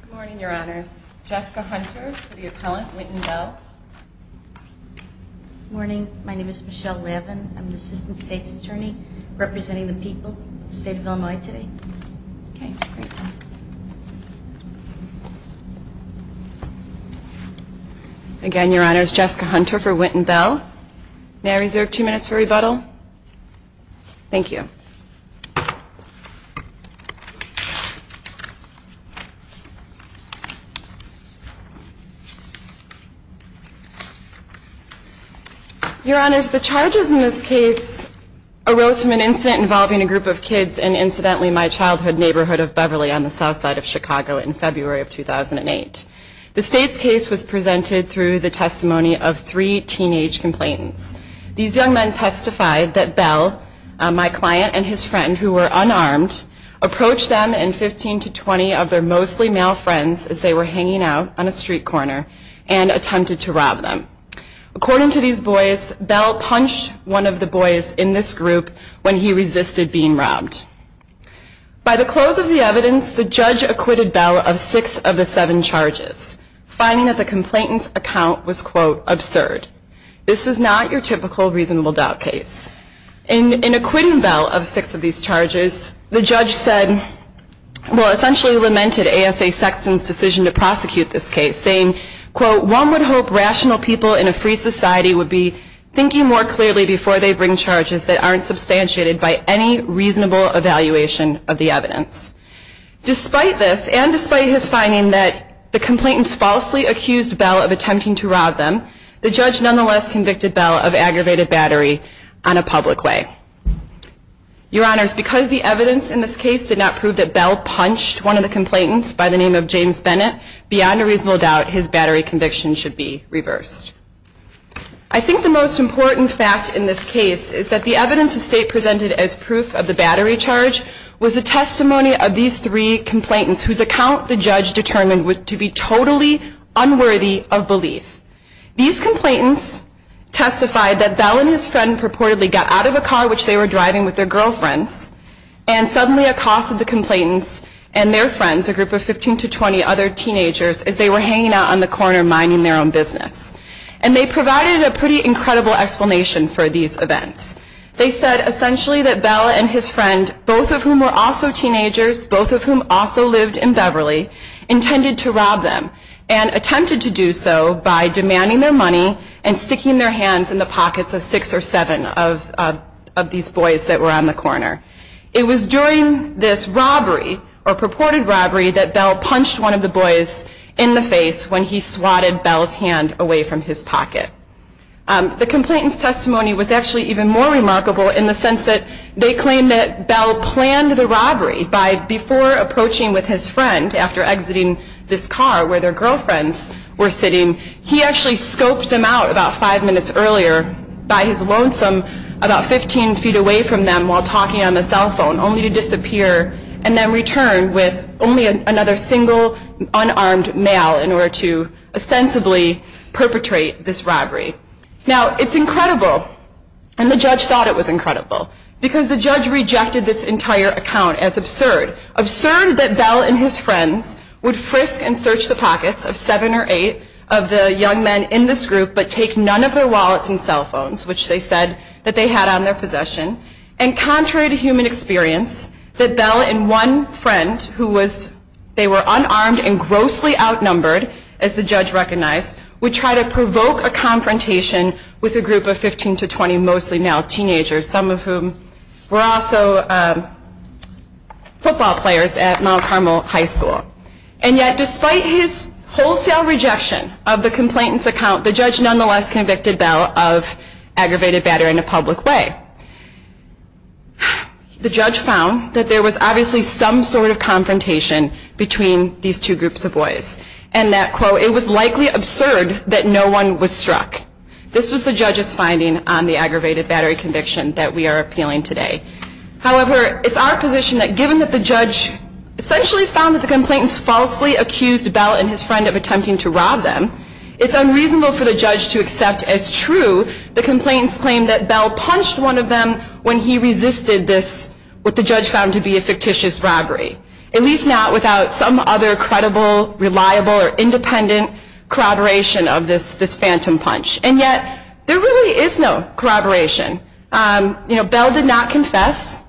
Good morning, your honors. Jessica Hunter for the appellant, Wynton Bell. Good morning. My name is Michelle Lavin. I'm an assistant state's attorney representing the people of the state of Illinois today. Okay, great. Again, your honors, Jessica Hunter for Wynton Bell. May I reserve two minutes for rebuttal? Thank you. Your honors, the charges in this case arose from an incident involving a group of kids in, incidentally, my childhood neighborhood of Beverly on the south side of Chicago in February of 2008. The state's case was presented through the testimony of three teenage complainants. These young men testified that Bell, my client and his friend who were unarmed, approached them and 15 to 20 of their mostly male friends as they were hanging out on a street corner and attempted to rob them. According to these boys, Bell punched one of the boys in this group when he resisted being robbed. By the close of the evidence, the judge acquitted Bell of six of the seven charges, finding that the complainant's account was, quote, absurd. This is not your typical reasonable doubt case. In acquitting Bell of six of these charges, the judge said, well, essentially lamented ASA Sexton's decision to prosecute this case, saying, quote, one would hope rational people in a free society would be thinking more clearly before they bring charges that aren't substantiated by any reasonable evaluation of the evidence. Despite this, and despite his finding that the complainants falsely accused Bell of attempting to rob them, the judge nonetheless convicted Bell of aggravated battery on a public way. Your Honors, because the evidence in this case did not prove that Bell punched one of the complainants by the name of James Bennett, beyond a reasonable doubt, his battery conviction should be reversed. I think the most important fact in this case is that the evidence the state presented as proof of the battery charge was the testimony of the young men who were unarmed. The testimony of these three complainants, whose account the judge determined to be totally unworthy of belief. These complainants testified that Bell and his friend purportedly got out of a car which they were driving with their girlfriends, and suddenly accosted the complainants and their friends, a group of 15 to 20 other teenagers, as they were hanging out on the corner minding their own business. And they provided a pretty incredible explanation for these events. They said essentially that Bell and his friend, both of whom were also teenagers, both of whom also lived in Beverly, intended to rob them, and attempted to do so by demanding their money and sticking their hands in the pockets of six or seven of these boys that were on the corner. It was during this robbery, or purported robbery, that Bell punched one of the boys in the face when he swatted Bell's hand away from his pocket. The complainant's testimony was actually even more remarkable in the sense that they claimed that Bell planned the robbery by, before approaching with his friend after exiting this car where their girlfriends were sitting, he actually scoped them out about five minutes earlier by his lonesome about 15 feet away from them while talking on the cell phone, only to disappear and then return with only another single unarmed male in order to ostensibly perpetrate this robbery. Now, it's incredible, and the judge thought it was incredible, because the judge rejected this entire account as absurd. Absurd that Bell and his friends would frisk and search the pockets of seven or eight of the young men in this group, but take none of their wallets and cell phones, which they said that they had on their possession. And contrary to human experience, that Bell and one friend, who was, they were unarmed and grossly outnumbered, as the judge recognized, would try to provoke a conflict of interest. And yet, despite his wholesale rejection of the complainant's account, the judge nonetheless convicted Bell of aggravated battery in a public way. The judge found that there was obviously some sort of confrontation between these two groups of boys, and that, quote, it was likely absurd that no one was struck. This was the judge's finding on the aggravated battery conviction that we are appealing today. However, it's our position that given that the judge essentially found that the complainants falsely accused Bell and his friend of attempting to rob them, it's unreasonable for the judge to accept as true the complainants claimed that Bell punched one of them when he resisted this, what the judge found to be a fictitious robbery. At least not without some other credible, reliable, or independent corroboration of this phantom punch. And yet, there really is no corroboration. You know, Bell did not confess.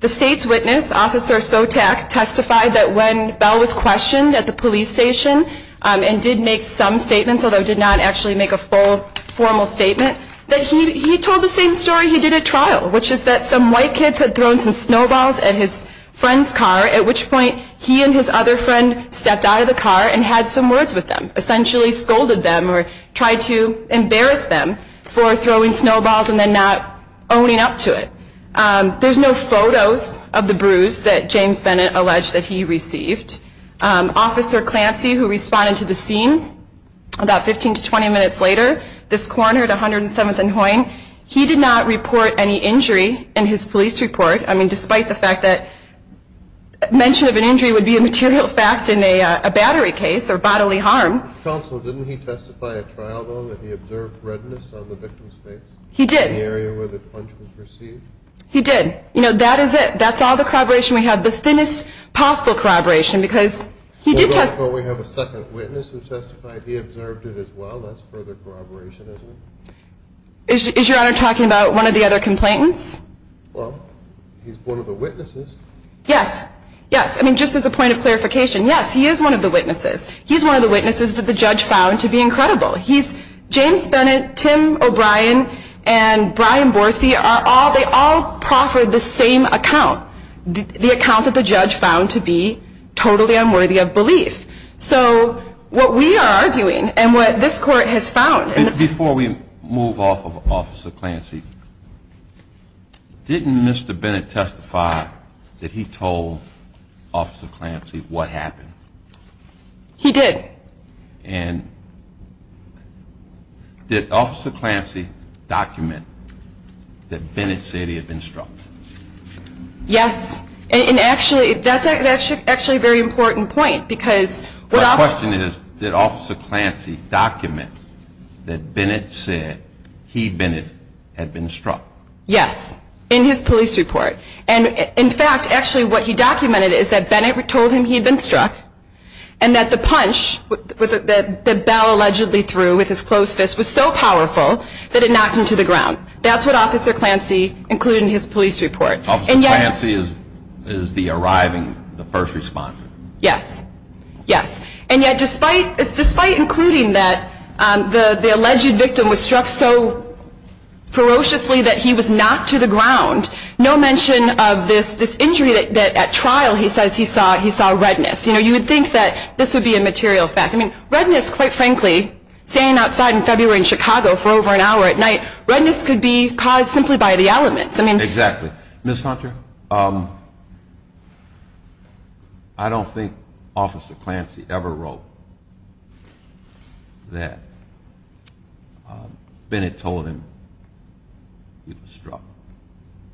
The state's witness, Officer Sotak, testified that when Bell was questioned at the police station and did make some statements, although did not actually make a full formal statement, that he told the same story he did at trial, which is that some white kids had thrown some snowballs at his friend's car, at which point he and his other friend stepped out of the car and had some words with them, essentially scolded them or tried to embarrass them. For throwing snowballs and then not owning up to it. There's no photos of the bruise that James Bennett alleged that he received. Officer Clancy, who responded to the scene about 15 to 20 minutes later, this coroner at 107th and Hoyne, he did not report any injury in his police report. I mean, despite the fact that mention of an injury would be a material fact in a battery case or bodily harm. Counsel, didn't he testify at trial, though, that he observed redness on the victim's face? He did. In the area where the punch was received? He did. You know, that is it. That's all the corroboration we have. The thinnest possible corroboration, because he did testify. Well, therefore, we have a second witness who testified he observed it as well. That's further corroboration, isn't it? Is Your Honor talking about one of the other complainants? Well, he's one of the witnesses. Yes. Yes. I mean, just as a point of clarification, yes, he is one of the witnesses. He's one of the witnesses that the judge found to be incredible. James Bennett, Tim O'Brien, and Brian Borsey, they all proffered the same account. The account that the judge found to be totally unworthy of belief. So what we are arguing and what this Court has found. Before we move off of Officer Clancy, didn't Mr. Bennett testify that he told Officer Clancy what happened? He did. And did Officer Clancy document that Bennett said he had been struck? Yes. And actually, that's actually a very important point. My question is, did Officer Clancy document that Bennett said he, Bennett, had been struck? Yes. In his police report. And in fact, actually what he documented is that Bennett told him he had been struck and that the punch that Bell allegedly threw with his closed fist was so powerful that it knocked him to the ground. That's what Officer Clancy included in his police report. Officer Clancy is the arriving, the first responder. Yes. Yes. And yet, despite including that the alleged victim was struck so ferociously that he was knocked to the ground, no mention of this injury that at trial he says he saw redness. You know, you would think that this would be a material fact. I mean, redness, quite frankly, staying outside in February in Chicago for over an hour at night, redness could be caused simply by the elements. Exactly. Ms. Hunter, I don't think Officer Clancy ever wrote that Bennett told him he was struck.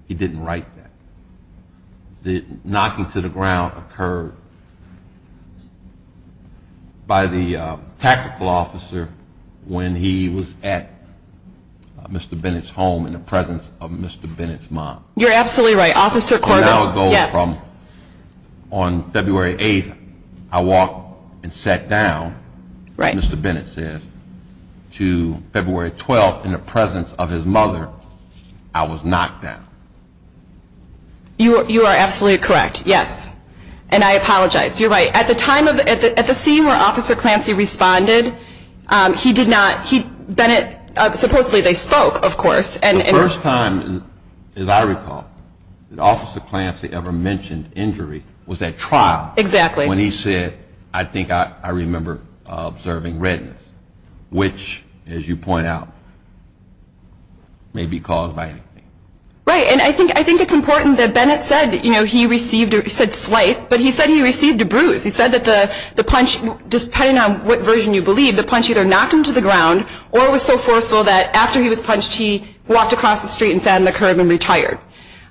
He didn't write that. The knocking to the ground occurred by the tactical officer when he was at Mr. Bennett's home in the presence of Mr. Bennett's mom. You're absolutely right. Officer Corbis, yes. An hour ago on February 8th, I walked and sat down. Right. Mr. Bennett said to February 12th in the presence of his mother, I was knocked down. You are absolutely correct. Yes. And I apologize. You're right. At the scene where Officer Clancy responded, he did not, he, Bennett, supposedly they spoke, of course. The first time, as I recall, that Officer Clancy ever mentioned injury was at trial. Exactly. When he said, I think I remember observing redness, which, as you point out, may be caused by anything. Right. And I think it's important that Bennett said he received, he said slight, but he said he received a bruise. He said that the punch, depending on what version you believe, the punch either knocked him to the ground or it was so forceful that after he was punched, he walked across the street and sat on the curb and retired.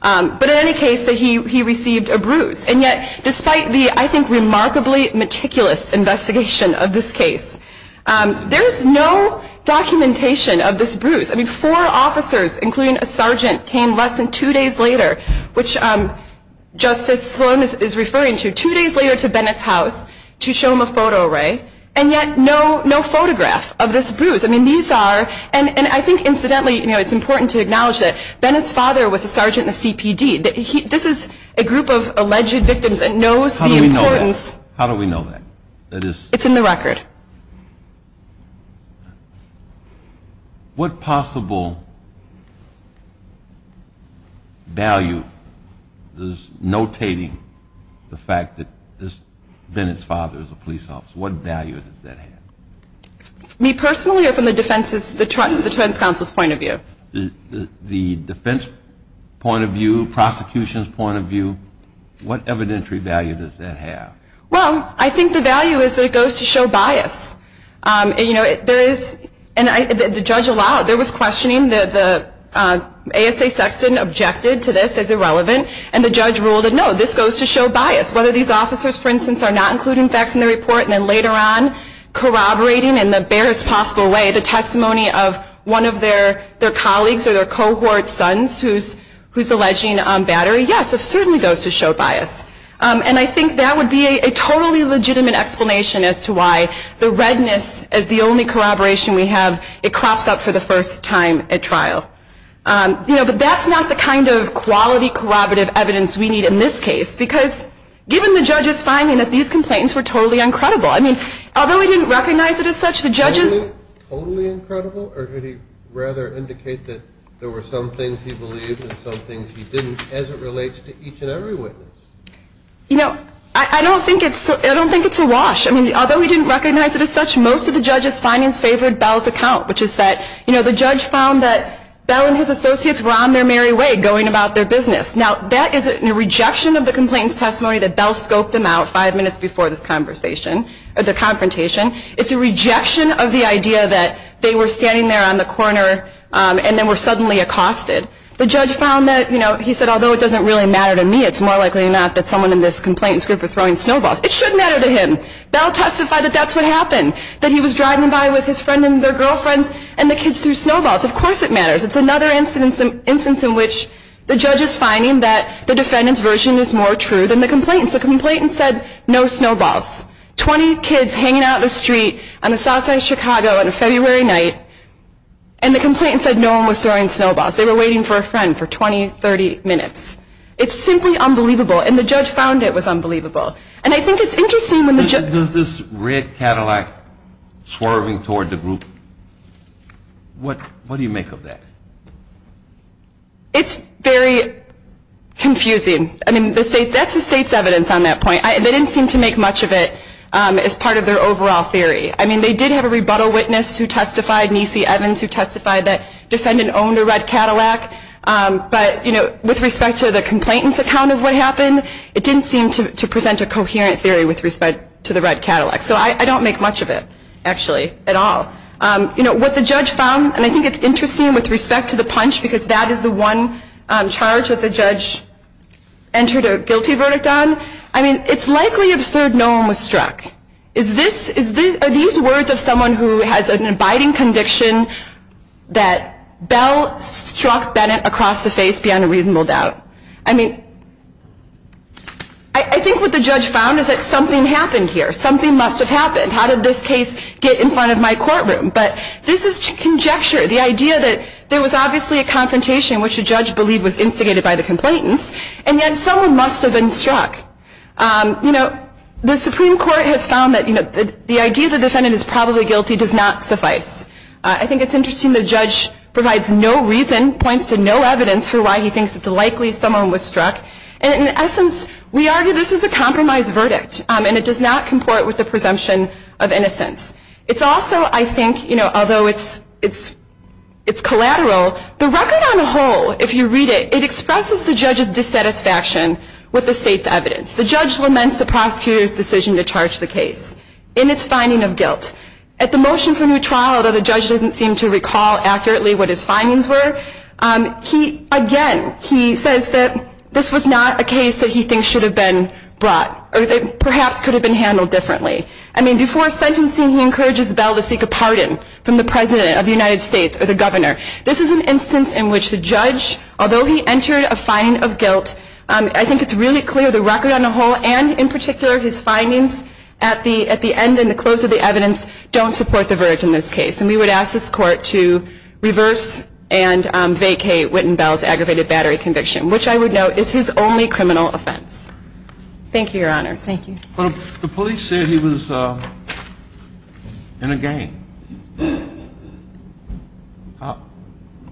But in any case, he received a bruise. And yet, despite the, I think, remarkably meticulous investigation of this case, there is no documentation of this bruise. I mean, four officers, including a sergeant, came less than two days later, which Justice Sloan is referring to, two days later to Bennett's house to show him a photo array, and yet no photograph of this bruise. I mean, these are, and I think, incidentally, it's important to acknowledge that Bennett's father was a sergeant in the CPD. This is a group of alleged victims that knows the importance. How do we know that? It's in the record. What possible value is notating the fact that this, Bennett's father is a police officer? What value does that have? Me personally, or from the defense's, the defense counsel's point of view? The defense point of view, prosecution's point of view, what evidentiary value does that have? Well, I think the value is that it goes to show bias. You know, there is, and the judge allowed, there was questioning, the ASA Sexton objected to this as irrelevant, and the judge ruled that, no, this goes to show bias. Whether these officers, for instance, are not including facts in the report and then later on corroborating in the barest possible way the testimony of one of their colleagues or their cohort's sons who's alleging battery, yes, it certainly goes to show bias. And I think that would be a totally legitimate explanation as to why the redness as the only corroboration we have, it crops up for the first time at trial. You know, but that's not the kind of quality corroborative evidence we need in this case, because given the judge's finding that these complaints were totally incredible, I mean, although he didn't recognize it as such, the judge's... Totally incredible, or did he rather indicate that there were some things he believed and some things he didn't as it relates to each and every witness? You know, I don't think it's a wash. I mean, although he didn't recognize it as such, most of the judge's findings favored Bell's account, which is that, you know, the judge found that Bell and his associates were on their merry way going about their business. Now, that is a rejection of the complainant's testimony that Bell scoped them out five minutes before this conversation, or the confrontation. It's a rejection of the idea that they were standing there on the corner and then were suddenly accosted. The judge found that, you know, he said, although it doesn't really matter to me, it's more likely than not that someone in this complainant's group were throwing snowballs. It should matter to him. Bell testified that that's what happened, that he was driving by with his friend and their girlfriends, and the kids threw snowballs. Of course it matters. It's another instance in which the judge is finding that the defendant's version is more true than the complainant's. The complainant said, no snowballs. Twenty kids hanging out in the street on the south side of Chicago on a February night, and the complainant said no one was throwing snowballs. They were waiting for a friend for 20, 30 minutes. It's simply unbelievable, and the judge found it was unbelievable. And I think it's interesting when the judge… Does this red Cadillac swerving toward the group, what do you make of that? It's very confusing. I mean, that's the state's evidence on that point. They didn't seem to make much of it as part of their overall theory. I mean, they did have a rebuttal witness who testified, Niecy Evans, who testified that the defendant owned a red Cadillac, but with respect to the complainant's account of what happened, it didn't seem to present a coherent theory with respect to the red Cadillac. So I don't make much of it, actually, at all. What the judge found, and I think it's interesting with respect to the punch, because that is the one charge that the judge entered a guilty verdict on. I mean, it's likely absurd no one was struck. Are these words of someone who has an abiding conviction that Bell struck Bennett across the face beyond a reasonable doubt? I mean, I think what the judge found is that something happened here. Something must have happened. How did this case get in front of my courtroom? But this is conjecture, the idea that there was obviously a confrontation, which the judge believed was instigated by the complainants, and yet someone must have been struck. You know, the Supreme Court has found that the idea that the defendant is probably guilty does not suffice. I think it's interesting the judge provides no reason, points to no evidence for why he thinks it's likely someone was struck. And in essence, we argue this is a compromised verdict, and it does not comport with the presumption of innocence. It's also, I think, although it's collateral, the record on the whole, if you read it, it expresses the judge's dissatisfaction with the state's evidence. The judge laments the prosecutor's decision to charge the case in its finding of guilt. At the motion for new trial, although the judge doesn't seem to recall accurately what his findings were, again, he says that this was not a case that he thinks should have been brought, or that perhaps could have been handled differently. I mean, before sentencing, he encourages Bell to seek a pardon from the president of the United States or the governor. This is an instance in which the judge, although he entered a finding of guilt, I think it's really clear the record on the whole, and in particular his findings at the end and the close of the evidence, don't support the verdict in this case. And we would ask this court to reverse and vacate Witten-Bell's aggravated battery conviction, which I would note is his only criminal offense. Thank you, Your Honor. Thank you. But the police said he was in a gang.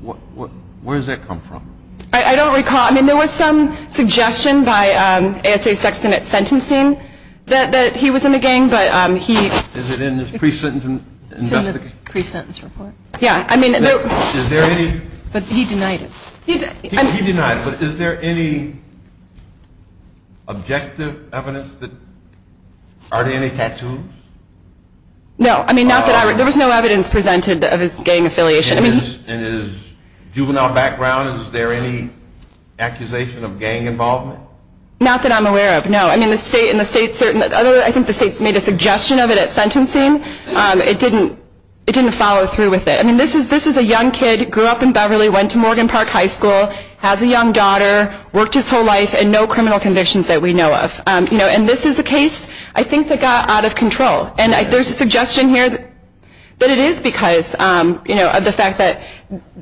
Where does that come from? I don't recall. I mean, there was some suggestion by A.S.A. Sexton at sentencing that he was in a gang, but he – Is it in his pre-sentence investigation? It's in the pre-sentence report. Yeah. Is there any – But he denied it. He denied it. But is there any objective evidence that – are there any tattoos? No. I mean, not that I – there was no evidence presented of his gang affiliation. In his juvenile background, is there any accusation of gang involvement? Not that I'm aware of, no. I mean, the state – and the state certainly – I think the state's made a suggestion of it at sentencing. It didn't follow through with it. I mean, this is a young kid, grew up in Beverly, went to Morgan Park High School, has a young daughter, worked his whole life, and no criminal convictions that we know of. You know, and this is a case I think that got out of control. And there's a suggestion here that it is because, you know, of the fact that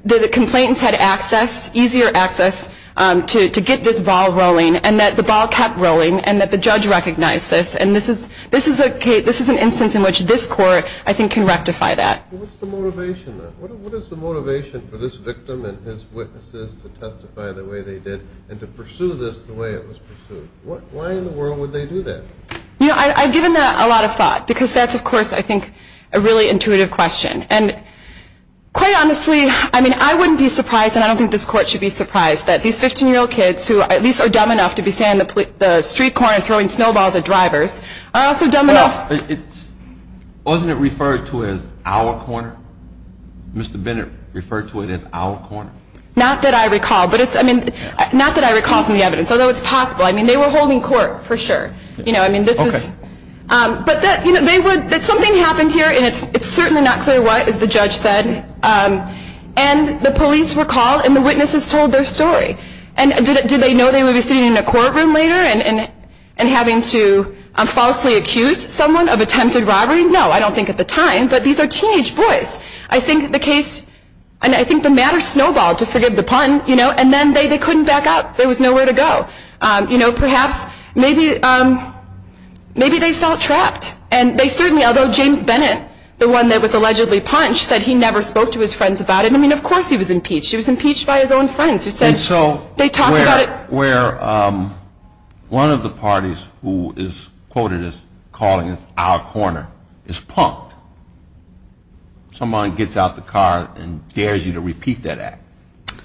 the complainants had access, easier access, to get this ball rolling, and that the ball kept rolling, and that the judge recognized this. And this is an instance in which this Court, I think, can rectify that. Well, what's the motivation then? What is the motivation for this victim and his witnesses to testify the way they did and to pursue this the way it was pursued? Why in the world would they do that? You know, I've given that a lot of thought because that's, of course, I think, a really intuitive question. And quite honestly, I mean, I wouldn't be surprised, and I don't think this Court should be surprised, that these 15-year-old kids who at least are dumb enough to be saying the street corner and throwing snowballs at drivers are also dumb enough – Wasn't it referred to as our corner? Mr. Bennett referred to it as our corner. Not that I recall, but it's – I mean, not that I recall from the evidence, although it's possible. I mean, they were holding court, for sure. You know, I mean, this is – Okay. But that, you know, they would – that something happened here, and it's certainly not clear what, as the judge said. And the police were called, and the witnesses told their story. And did they know they would be sitting in a courtroom later and having to falsely accuse someone of attempted robbery? No. I don't think at the time. But these are teenage boys. I think the case – and I think the matter snowballed, to forgive the pun, you know, and then they couldn't back out. There was nowhere to go. You know, perhaps – maybe they felt trapped. And they certainly – although James Bennett, the one that was allegedly punched, said he never spoke to his friends about it. I mean, of course he was impeached. He was impeached by his own friends who said – Where one of the parties who is quoted as calling this our corner is punked. Someone gets out the car and dares you to repeat that act.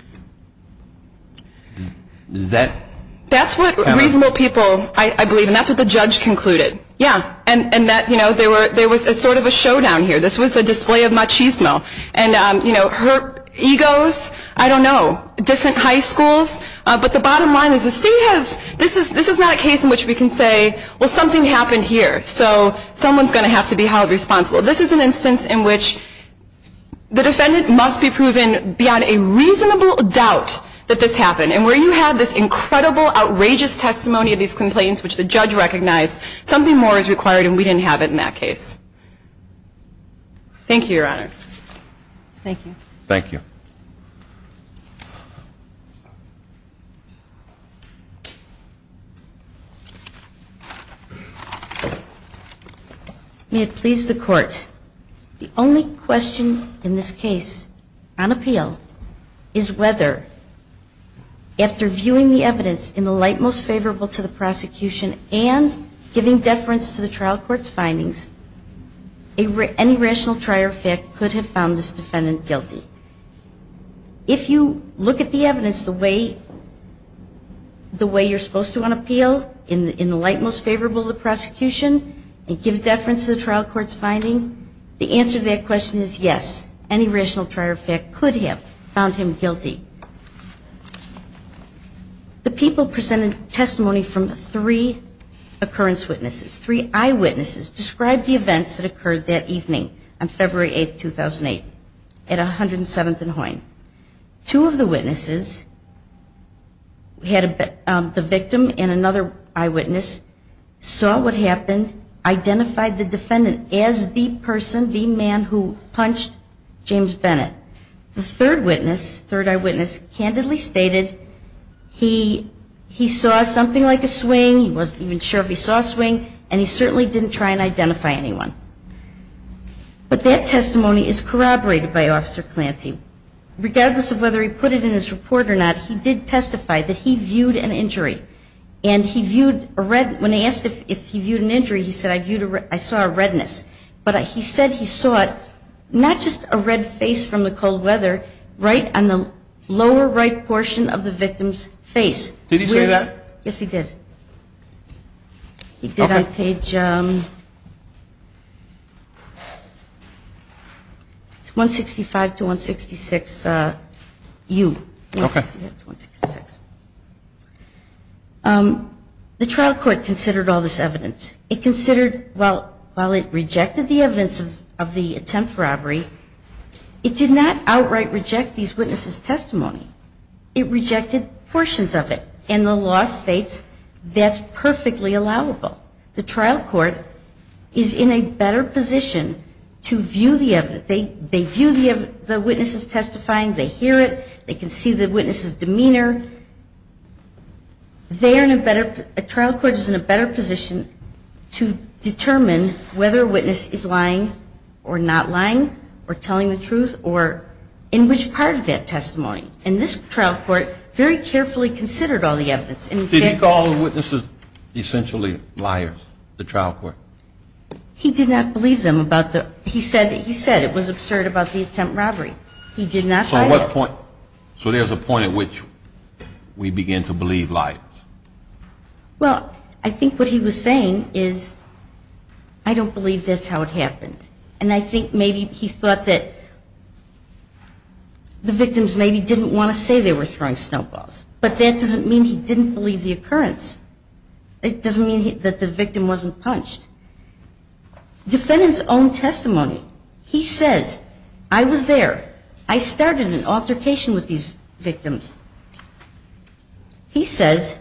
Is that – That's what reasonable people – I believe, and that's what the judge concluded. Yeah. And that, you know, there was sort of a showdown here. This was a display of machismo. And, you know, her egos, I don't know. And it's a – there's a lot of different high schools, but the bottom line is the city has – this is not a case in which we can say, well, something happened here. So someone's going to have to be held responsible. This is an instance in which the defendant must be proven beyond a reasonable doubt that this happened. And where you have this incredible, outrageous testimony of these complaints, which the judge recognized, something more is required, and we didn't have it in that case. Thank you, Your Honors. Thank you. Thank you. May it please the Court. The only question in this case on appeal is whether, after viewing the evidence in the light most favorable to the prosecution and giving deference to the trial court's findings, any rational trier of fact could have found this defendant guilty. If you look at the evidence the way you're supposed to on appeal, in the light most favorable to the prosecution, and give deference to the trial court's finding, the answer to that question is yes, any rational trier of fact could have found him guilty. The people presented testimony from three occurrence witnesses, three eyewitnesses, described the events that occurred that evening on February 8th, 2008, at 107th and Hoyne. Two of the witnesses, the victim and another eyewitness, saw what happened, identified the defendant as the person, the man who punched James Bennett. The third eyewitness candidly stated he saw something like a swing, he wasn't even sure if he saw a swing, and he certainly didn't try and identify anyone. But that testimony is corroborated by Officer Clancy. Regardless of whether he put it in his report or not, he did testify that he viewed an injury. And when he asked if he viewed an injury, he said, I saw a redness. But he said he saw it, not just a red face from the cold weather, right on the lower right portion of the victim's face. Did he say that? Yes, he did. He did on page 165 to 166U. Okay. The trial court considered all this evidence. It considered, while it rejected the evidence of the attempt robbery, it did not outright reject these witnesses' testimony. It rejected portions of it. And the law states that's perfectly allowable. The trial court is in a better position to view the evidence. They view the witnesses' testifying. They hear it. They can see the witnesses' demeanor. They are in a better, a trial court is in a better position to determine whether a witness is lying or not lying or telling the truth or in which part of that testimony. And this trial court very carefully considered all the evidence. Did he call the witnesses essentially liars, the trial court? He did not believe them about the, he said it was absurd about the attempt robbery. He did not. So there's a point at which we begin to believe liars. Well, I think what he was saying is I don't believe that's how it happened. And I think maybe he thought that the victims maybe didn't want to say they were throwing snowballs. But that doesn't mean he didn't believe the occurrence. It doesn't mean that the victim wasn't punched. Defendant's own testimony, he says, I was there. I started an altercation with these victims. He says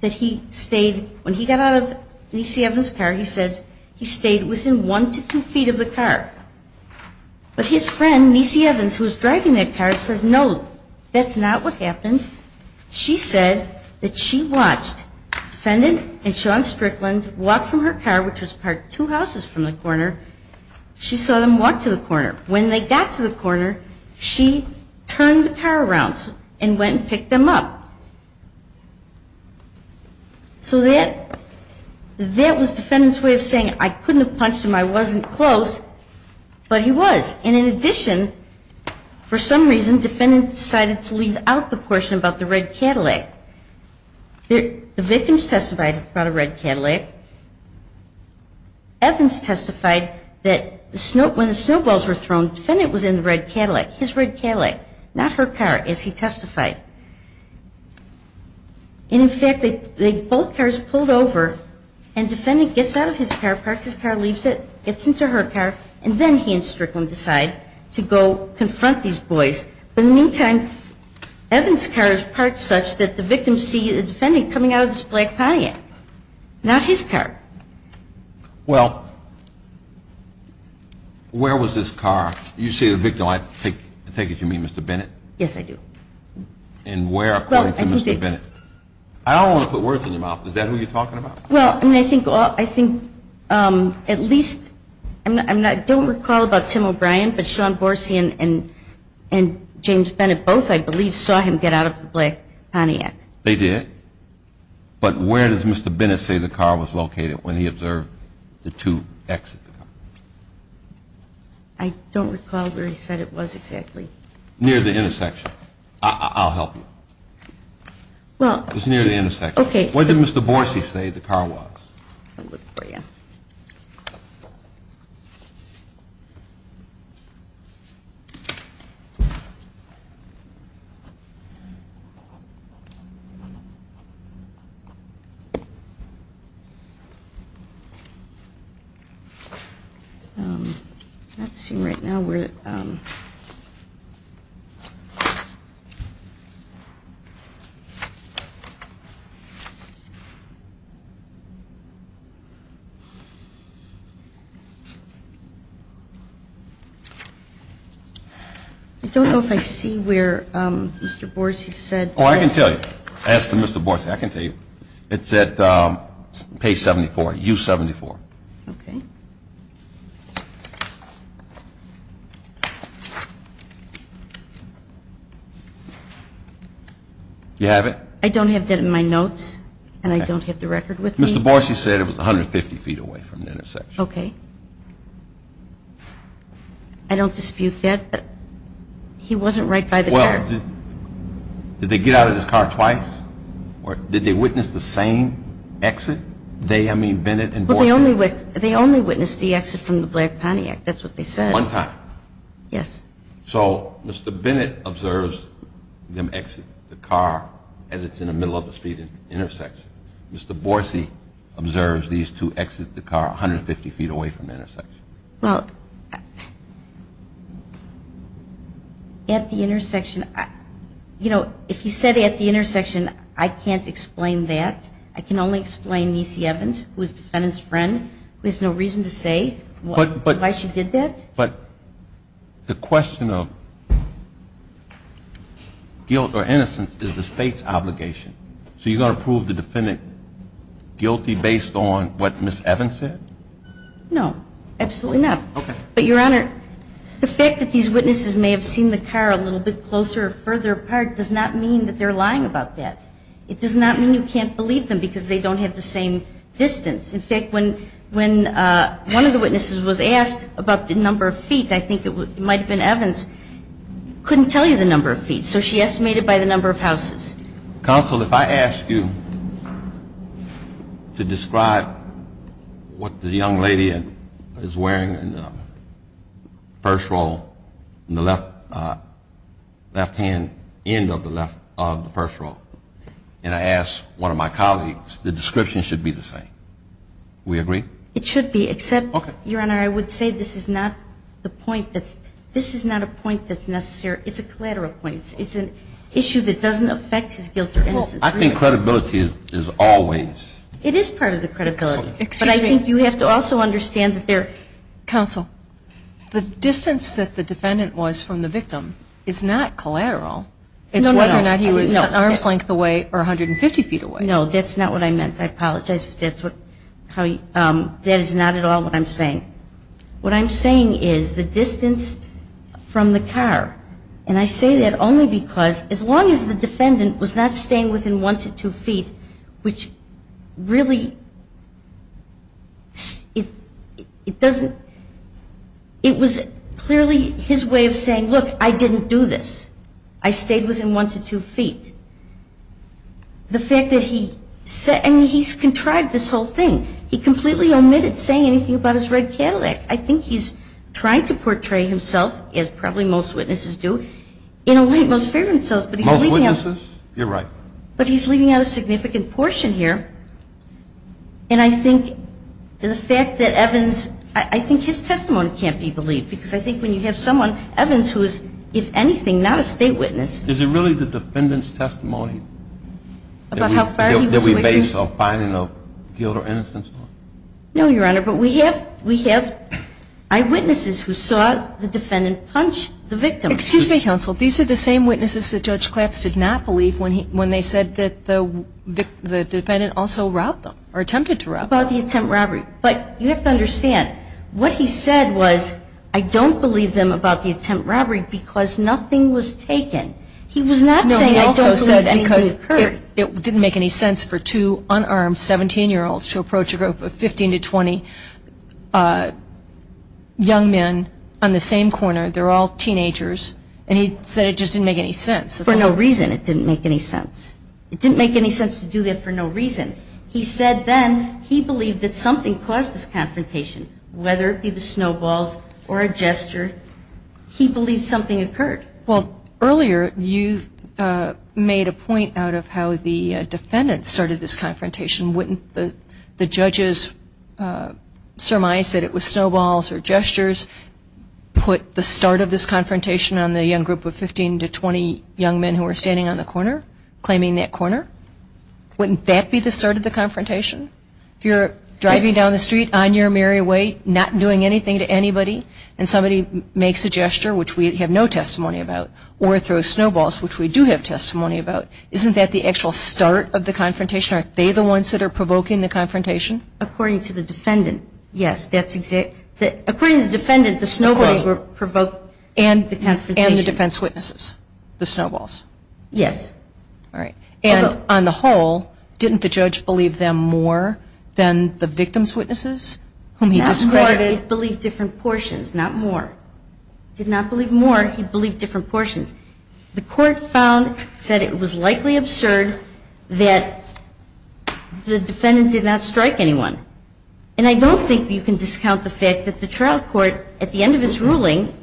that he stayed, when he got out of Niecy Evans' car, he says he stayed within one to two feet of the car. But his friend, Niecy Evans, who was driving that car, says no, that's not what happened. She said that she watched Defendant and Sean Strickland walk from her car, which was parked two houses from the corner. She saw them walk to the corner. When they got to the corner, she turned the car around and went and picked them up. So that was Defendant's way of saying I couldn't have punched him, I wasn't close, but he was. And in addition, for some reason, Defendant decided to leave out the portion about the red Cadillac. The victims testified about a red Cadillac. Evans testified that when the snowballs were thrown, Defendant was in the red Cadillac, his red Cadillac, not her car, as he testified. And in fact, they both cars pulled over and Defendant gets out of his car, parks his car, leaves it, gets into her car, and then he and Strickland decide to go confront these boys. But in the meantime, Evans' car is parked such that the victims see the Defendant coming out of this black Pontiac, not his car. Well, where was this car? You say the victim. I take it you mean Mr. Bennett? Yes, I do. And where, according to Mr. Bennett? I don't want to put words in your mouth. Is that who you're talking about? Well, I think at least, I don't recall about Tim O'Brien, but Sean Borstein and James Bennett both, I believe, saw him get out of the black Pontiac. They did? But where does Mr. Bennett say the car was located when he observed the two exit the car? I don't recall where he said it was exactly. Near the intersection. I'll help you. It was near the intersection. Okay. Where did Mr. Borstein say the car was? I'll look for you. I'm not seeing right now where. I don't know if I see where Mr. Borstein said. Oh, I can tell you. Ask Mr. Borstein. I can tell you. It's at page 74, U74. Okay. Do you have it? I don't have that in my notes, and I don't have the record with me. Mr. Borstein said it was 150 feet away from the intersection. Okay. I don't dispute that, but he wasn't right by the car. Did they get out of this car twice? Or did they witness the same exit? They, I mean, Bennett and Borstein. They only witnessed the exit from the black Pontiac. That's what they said. One time. Yes. So Mr. Bennett observes them exit the car as it's in the middle of the speed intersection. Well, at the intersection, you know, if you said at the intersection, I can't explain that. I can only explain Niecy Evans, who is the defendant's friend, who has no reason to say why she did that. But the question of guilt or innocence is the state's obligation. So you're going to prove the defendant guilty based on what Ms. Evans said? No, absolutely not. Okay. But, Your Honor, the fact that these witnesses may have seen the car a little bit closer or further apart does not mean that they're lying about that. It does not mean you can't believe them because they don't have the same distance. In fact, when one of the witnesses was asked about the number of feet, I think it might have been Evans, couldn't tell you the number of feet, so she estimated by the number of houses. Counsel, if I ask you to describe what the young lady is wearing in the first row in the left-hand end of the first row, and I ask one of my colleagues, the description should be the same. We agree? It should be, except, Your Honor, I would say this is not a point that's necessary. It's a collateral point. It's an issue that doesn't affect his guilt or innocence. Well, I think credibility is always. It is part of the credibility. Excuse me. But I think you have to also understand that there. Counsel, the distance that the defendant was from the victim is not collateral. No, no, no. It's whether or not he was arm's length away or 150 feet away. No, that's not what I meant. I apologize. That is not at all what I'm saying. What I'm saying is the distance from the car. And I say that only because as long as the defendant was not staying within one to two feet, which really, it doesn't, it was clearly his way of saying, look, I didn't do this. I stayed within one to two feet. The fact that he, and he's contrived this whole thing. He completely omitted saying anything about his red Cadillac. I think he's trying to portray himself, as probably most witnesses do, in a way that most fear themselves. Most witnesses? You're right. But he's leaving out a significant portion here. And I think the fact that Evans, I think his testimony can't be believed. Because I think when you have someone, Evans, who is, if anything, not a state witness. Is it really the defendant's testimony? About how far he was away? That we base our finding of guilt or innocence on? No, Your Honor. But we have eyewitnesses who saw the defendant punch the victim. Excuse me, counsel. These are the same witnesses that Judge Claps did not believe when they said that the defendant also robbed them. Or attempted to rob them. About the attempt robbery. But you have to understand, what he said was, I don't believe them about the attempt robbery because nothing was taken. He was not saying I don't believe anything occurred. It didn't make any sense for two unarmed 17-year-olds to approach a group of 15 to 20 young men on the same corner. They're all teenagers. And he said it just didn't make any sense. For no reason it didn't make any sense. It didn't make any sense to do that for no reason. He said then he believed that something caused this confrontation. Whether it be the snowballs or a gesture, he believed something occurred. Well, earlier you made a point out of how the defendant started this confrontation. Wouldn't the judge's surmise that it was snowballs or gestures put the start of this confrontation on the young group of 15 to 20 young men who were standing on the corner, claiming that corner? Wouldn't that be the start of the confrontation? If you're driving down the street on your merry way, not doing anything to anybody, and somebody makes a gesture, which we have no testimony about, or throws snowballs, which we do have testimony about, isn't that the actual start of the confrontation? Aren't they the ones that are provoking the confrontation? According to the defendant, yes. According to the defendant, the snowballs provoked the confrontation. And the defense witnesses, the snowballs. Yes. All right. And on the whole, didn't the judge believe them more than the victim's witnesses whom he discredited? He did not believe more. He believed different portions, not more. Did not believe more. He believed different portions. The court found, said it was likely absurd that the defendant did not strike anyone. And I don't think you can discount the fact that the trial court, at the end of his ruling,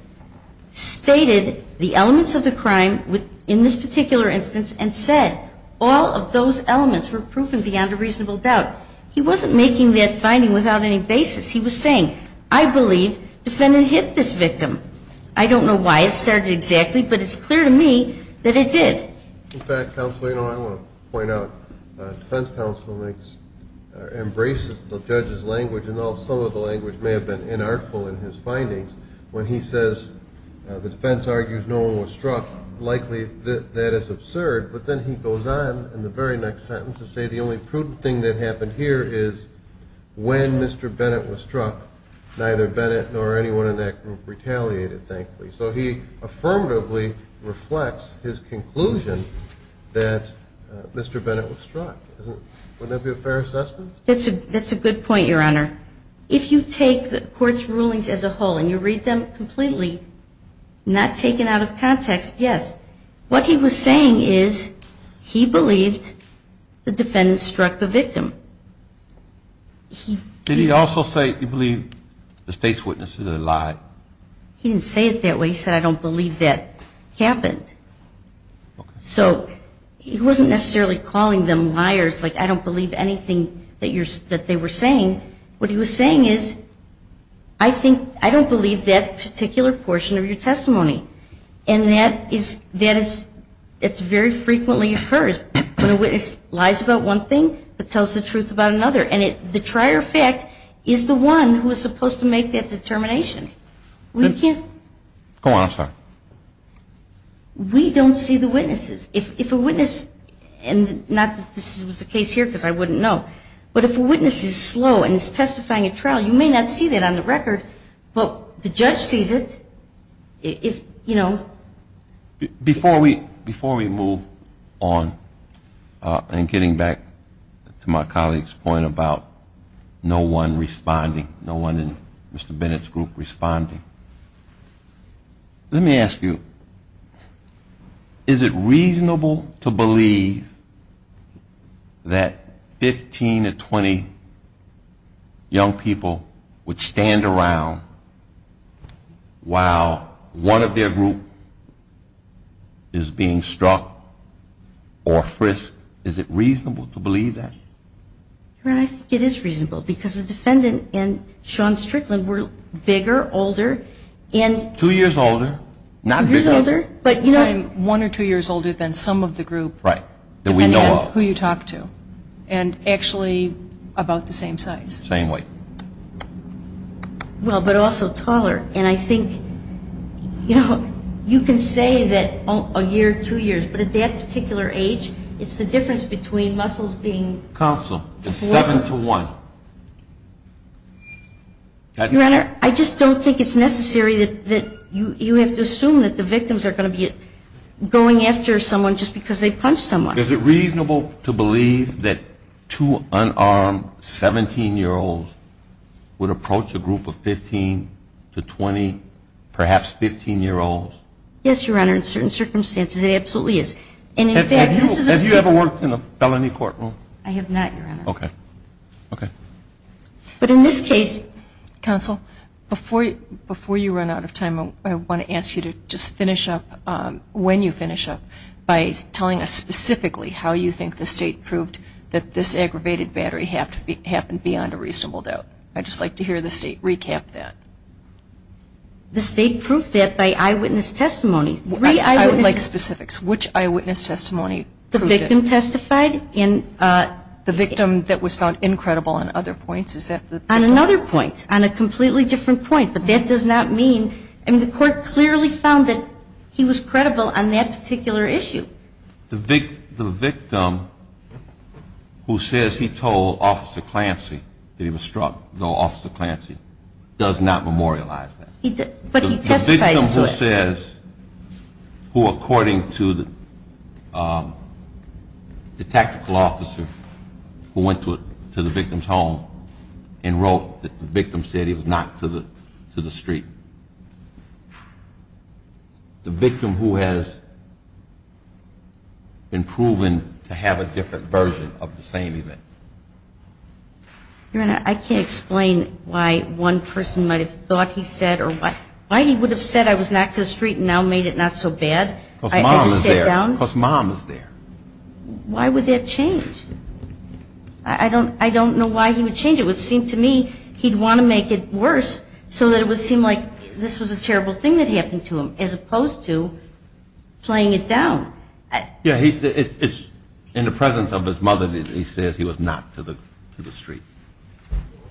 stated the elements of the crime in this particular instance and said all of those elements were proven beyond a reasonable doubt. He wasn't making that finding without any basis. He was saying, I believe defendant hit this victim. I don't know why it started exactly, but it's clear to me that it did. In fact, counsel, you know, I want to point out defense counsel embraces the judge's language, and some of the language may have been inartful in his findings, when he says the defense argues no one was struck, likely that is absurd. But then he goes on in the very next sentence to say the only prudent thing that happened here is when Mr. Bennett was struck, neither Bennett nor anyone in that group retaliated thankfully. So he affirmatively reflects his conclusion that Mr. Bennett was struck. Wouldn't that be a fair assessment? That's a good point, Your Honor. If you take the court's rulings as a whole and you read them completely, not taken out of context, yes. What he was saying is he believed the defendant struck the victim. Did he also say he believed the state's witness is a lie? He didn't say it that way. He said I don't believe that happened. So he wasn't necessarily calling them liars, like I don't believe anything that they were saying. What he was saying is I don't believe that particular portion of your testimony, and that is very frequently occurs when a witness lies about one thing but tells the truth about another. And the trier fact is the one who is supposed to make that determination. We can't. Go on, I'm sorry. We don't see the witnesses. If a witness, and not that this was the case here because I wouldn't know, but if a witness is slow and is testifying at trial, you may not see that on the record, but the judge sees it. Before we move on and getting back to my colleague's point about no one responding, no one in Mr. Bennett's group responding, let me ask you, is it reasonable to believe that 15 to 20 young people would stand around while one of their group is being struck or frisked? Is it reasonable to believe that? I think it is reasonable because the defendant and Sean Strickland were bigger, older. Two years older. Two years older? One or two years older than some of the group, depending on who you talk to, and actually about the same size. Same weight. Well, but also taller. And I think, you know, you can say that a year, two years, but at that particular age it's the difference between muscles being four. Counsel, it's seven to one. Your Honor, I just don't think it's necessary that you have to assume that the victims are going to be going after someone just because they punched someone. Is it reasonable to believe that two unarmed 17-year-olds would approach a group of 15 to 20, perhaps 15-year-olds? Yes, Your Honor, in certain circumstances it absolutely is. And in fact, this is a particular group. Have you ever worked in a felony courtroom? I have not, Your Honor. Okay. But in this case. Counsel, before you run out of time, I want to ask you to just finish up, when you finish up, by telling us specifically how you think the State proved that this aggravated battery happened beyond a reasonable doubt. I'd just like to hear the State recap that. The State proved that by eyewitness testimony. I would like specifics. Which eyewitness testimony? The victim testified. And the victim that was found incredible on other points? On another point, on a completely different point. But that does not mean the court clearly found that he was credible on that particular issue. The victim who says he told Officer Clancy that he was struck, though Officer Clancy does not memorialize that. But he testified to it. The victim who says, who according to the tactical officer who went to the victim's home and wrote that the victim said he was knocked to the street. The victim who has been proven to have a different version of the same event. Your Honor, I can't explain why one person might have thought he said, or why he would have said I was knocked to the street and now made it not so bad. Because mom was there. I just sat down. Because mom was there. Why would that change? I don't know why he would change it. It would seem to me he'd want to make it worse so that it would seem like this was a terrible thing that happened to him, as opposed to playing it down. In the presence of his mother, he says he was knocked to the street.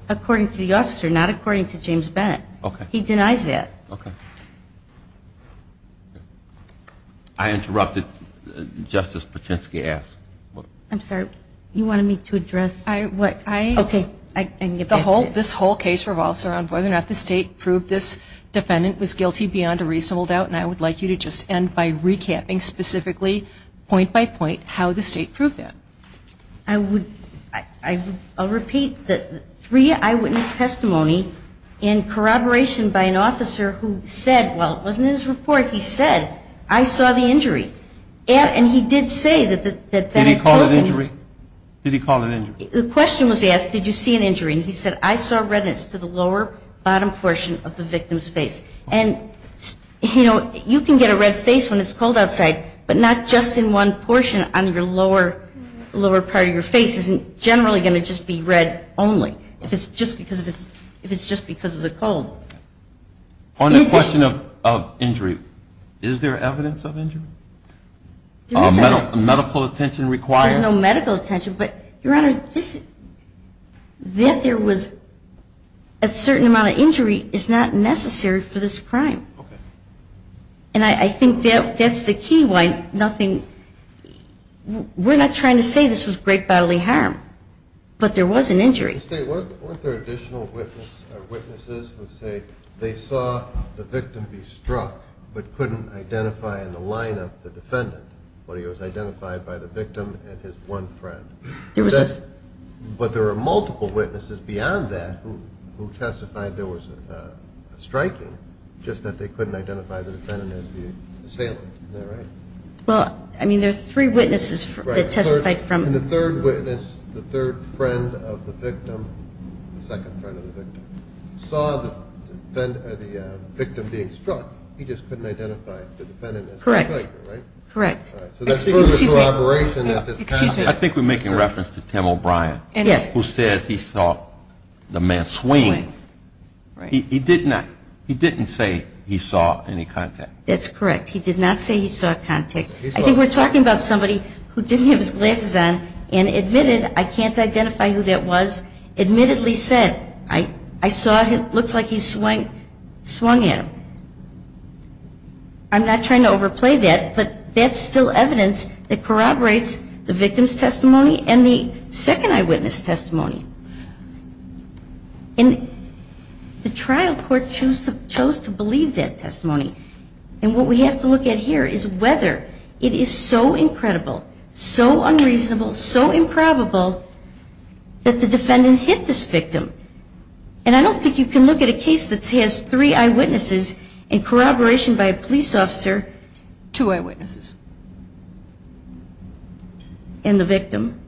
According to the officer, not according to James Bennett. Okay. He denies that. Okay. I interrupted. Justice Paczynski asked. I'm sorry. You wanted me to address? Okay. This whole case revolves around whether or not the state proved this defendant was guilty beyond a reasonable doubt. And I would like you to just end by recapping specifically, point by point, how the state proved that. I'll repeat. Three eyewitness testimony in corroboration by an officer who said, well, it wasn't in his report. He said, I saw the injury. And he did say that Bennett told him. Did he call it injury? Did he call it injury? The question was asked, did you see an injury? And he said, I saw redness to the lower bottom portion of the victim's face. And, you know, you can get a red face when it's cold outside. But not just in one portion on your lower part of your face isn't generally going to just be red only. If it's just because of the cold. On the question of injury, is there evidence of injury? Is medical attention required? There's no medical attention. But, Your Honor, that there was a certain amount of injury is not necessary for this crime. Okay. And I think that's the key. We're not trying to say this was great bodily harm. But there was an injury. Aren't there additional witnesses who say they saw the victim be struck but couldn't identify in the line of the defendant? But he was identified by the victim and his one friend. But there are multiple witnesses beyond that who testified there was a striking, just that they couldn't identify the defendant as the assailant. Isn't that right? Well, I mean, there's three witnesses that testified from. And the third witness, the third friend of the victim, the second friend of the victim, saw the victim being struck. He just couldn't identify the defendant as the striker, right? Correct. Excuse me. I think we're making reference to Tim O'Brien. Yes. Who said he saw the man swing. He didn't say he saw any contact. That's correct. He did not say he saw contact. I think we're talking about somebody who didn't have his glasses on and admitted, I can't identify who that was, admittedly said, I saw him, looks like he swung at him. I'm not trying to overplay that, but that's still evidence that corroborates the victim's testimony and the second eyewitness testimony. And the trial court chose to believe that testimony. And what we have to look at here is whether it is so incredible, so unreasonable, so improbable that the defendant hit this victim. And I don't think you can look at a case that has three eyewitnesses in corroboration by a police officer. Two eyewitnesses. And the victim.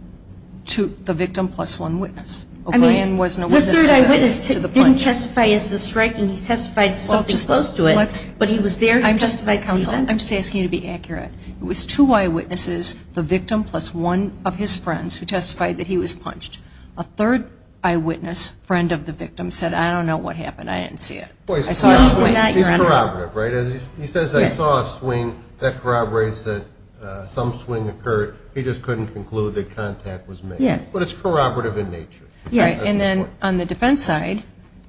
The victim plus one witness. O'Brien wasn't a witness to the punch. The third eyewitness didn't testify as the striker. He testified something close to it, but he was there to testify at the event. I'm just asking you to be accurate. It was two eyewitnesses, the victim plus one of his friends, who testified that he was punched. A third eyewitness, friend of the victim, said, I don't know what happened. I didn't see it. I saw a swing. He's corroborative, right? He says, I saw a swing. That corroborates that some swing occurred. He just couldn't conclude that contact was made. Yes. But it's corroborative in nature. Yes. And then on the defense side,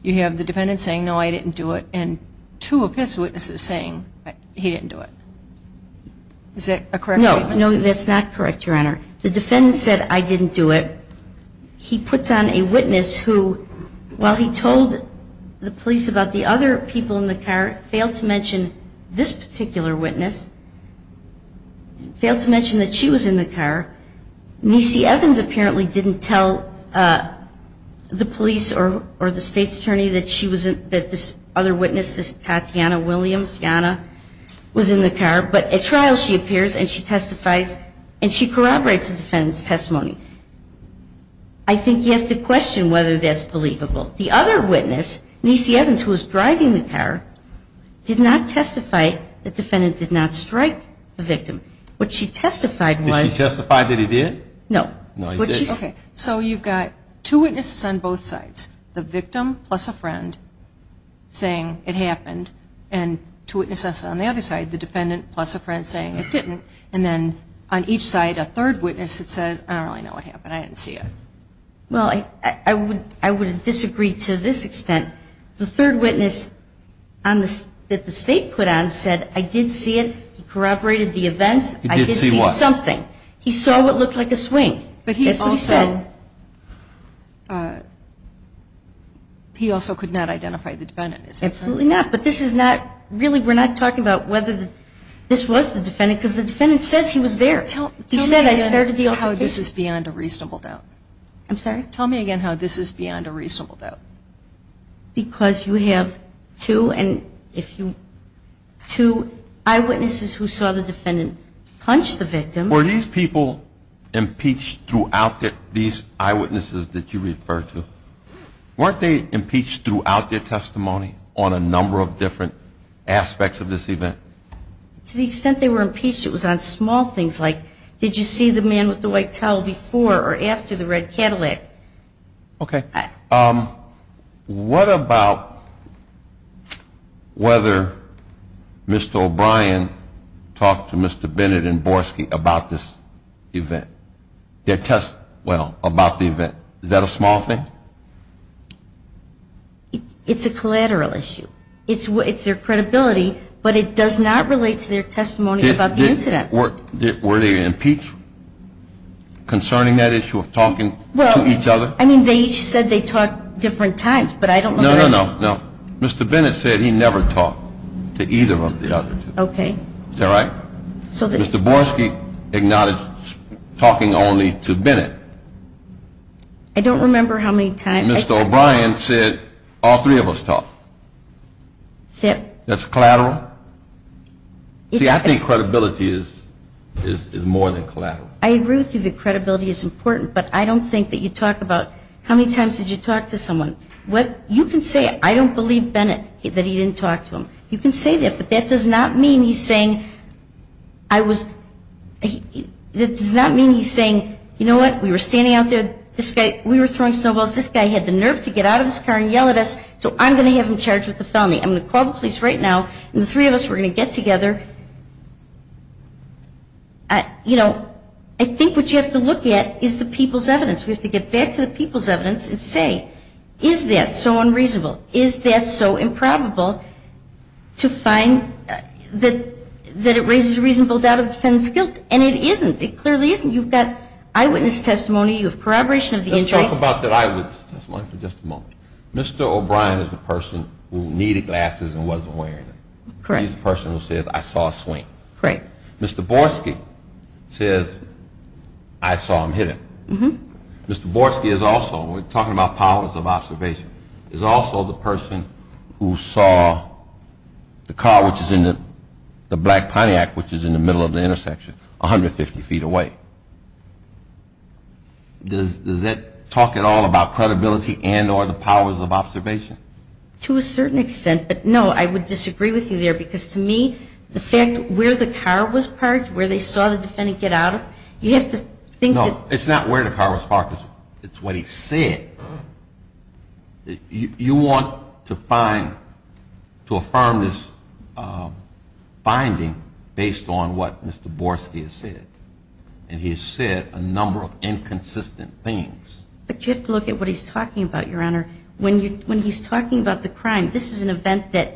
you have the defendant saying, no, I didn't do it, and two of his witnesses saying he didn't do it. Is that a correct statement? No, that's not correct, Your Honor. The defendant said, I didn't do it. He puts on a witness who, while he told the police about the other people in the car, failed to mention this particular witness, failed to mention that she was in the car. Niecy Evans apparently didn't tell the police or the state's attorney that this other witness, this Tatiana Williams, Tiana, was in the car. But at trial, she appears and she testifies and she corroborates the defendant's testimony. I think you have to question whether that's believable. The other witness, Niecy Evans, who was driving the car, did not testify that the defendant did not strike the victim. What she testified was. Did she testify that he did? No. No, he didn't. Okay. So you've got two witnesses on both sides, the victim plus a friend, saying it happened, and two witnesses on the other side, the defendant plus a friend saying it didn't, and then on each side a third witness that says, I don't really know what happened. I didn't see it. Well, I would disagree to this extent. The third witness that the state put on said, I did see it. He corroborated the events. He did see what? I did see something. He saw what looked like a swing. But he also. That's what he said. He also could not identify the defendant. Absolutely not. But this is not really, we're not talking about whether this was the defendant, because the defendant says he was there. He said, I started the altercation. Tell me again how this is beyond a reasonable doubt. I'm sorry? Tell me again how this is beyond a reasonable doubt. Because you have two, and if you, two eyewitnesses who saw the defendant punch the victim. Were these people impeached throughout these eyewitnesses that you referred to? Weren't they impeached throughout their testimony on a number of different aspects of this event? To the extent they were impeached, it was on small things like, did you see the man with the white towel before or after the red Cadillac? Okay. What about whether Mr. O'Brien talked to Mr. Bennett and Borski about this event? Their testimony, well, about the event. Is that a small thing? It's a collateral issue. It's their credibility, but it does not relate to their testimony about the incident. Were they impeached concerning that issue of talking to each other? Well, I mean, they each said they talked different times, but I don't know. No, no, no, no. Mr. Bennett said he never talked to either of the others. Okay. Is that right? Mr. Borski acknowledged talking only to Bennett. I don't remember how many times. Mr. O'Brien said all three of us talked. That's collateral? See, I think credibility is more than collateral. I agree with you that credibility is important, but I don't think that you talk about how many times did you talk to someone. You can say, I don't believe Bennett, that he didn't talk to him. You can say that, but that does not mean he's saying, you know what, we were standing out there, we were throwing snowballs, this guy had the nerve to get out of his car and yell at us, so I'm going to have him charged with a felony. I'm going to call the police right now, and the three of us, we're going to get together. You know, I think what you have to look at is the people's evidence. We have to get back to the people's evidence and say, is that so unreasonable? Is that so improbable? To find that it raises a reasonable doubt of the defendant's guilt, and it isn't. It clearly isn't. You've got eyewitness testimony, you have corroboration of the injury. Let's talk about that eyewitness testimony for just a moment. Mr. O'Brien is the person who needed glasses and wasn't wearing them. Correct. He's the person who says, I saw a swing. Correct. Mr. Borski says, I saw him hit him. Mr. Borski is also, we're talking about powers of observation, is also the person who saw the car which is in the Black Pontiac, which is in the middle of the intersection, 150 feet away. Does that talk at all about credibility and or the powers of observation? To a certain extent, but no, I would disagree with you there, because to me the fact where the car was parked, where they saw the defendant get out of, you have to think that. No, it's not where the car was parked. It's what he said. You want to find, to affirm this finding based on what Mr. Borski has said, and he has said a number of inconsistent things. But you have to look at what he's talking about, Your Honor. When he's talking about the crime, this is an event that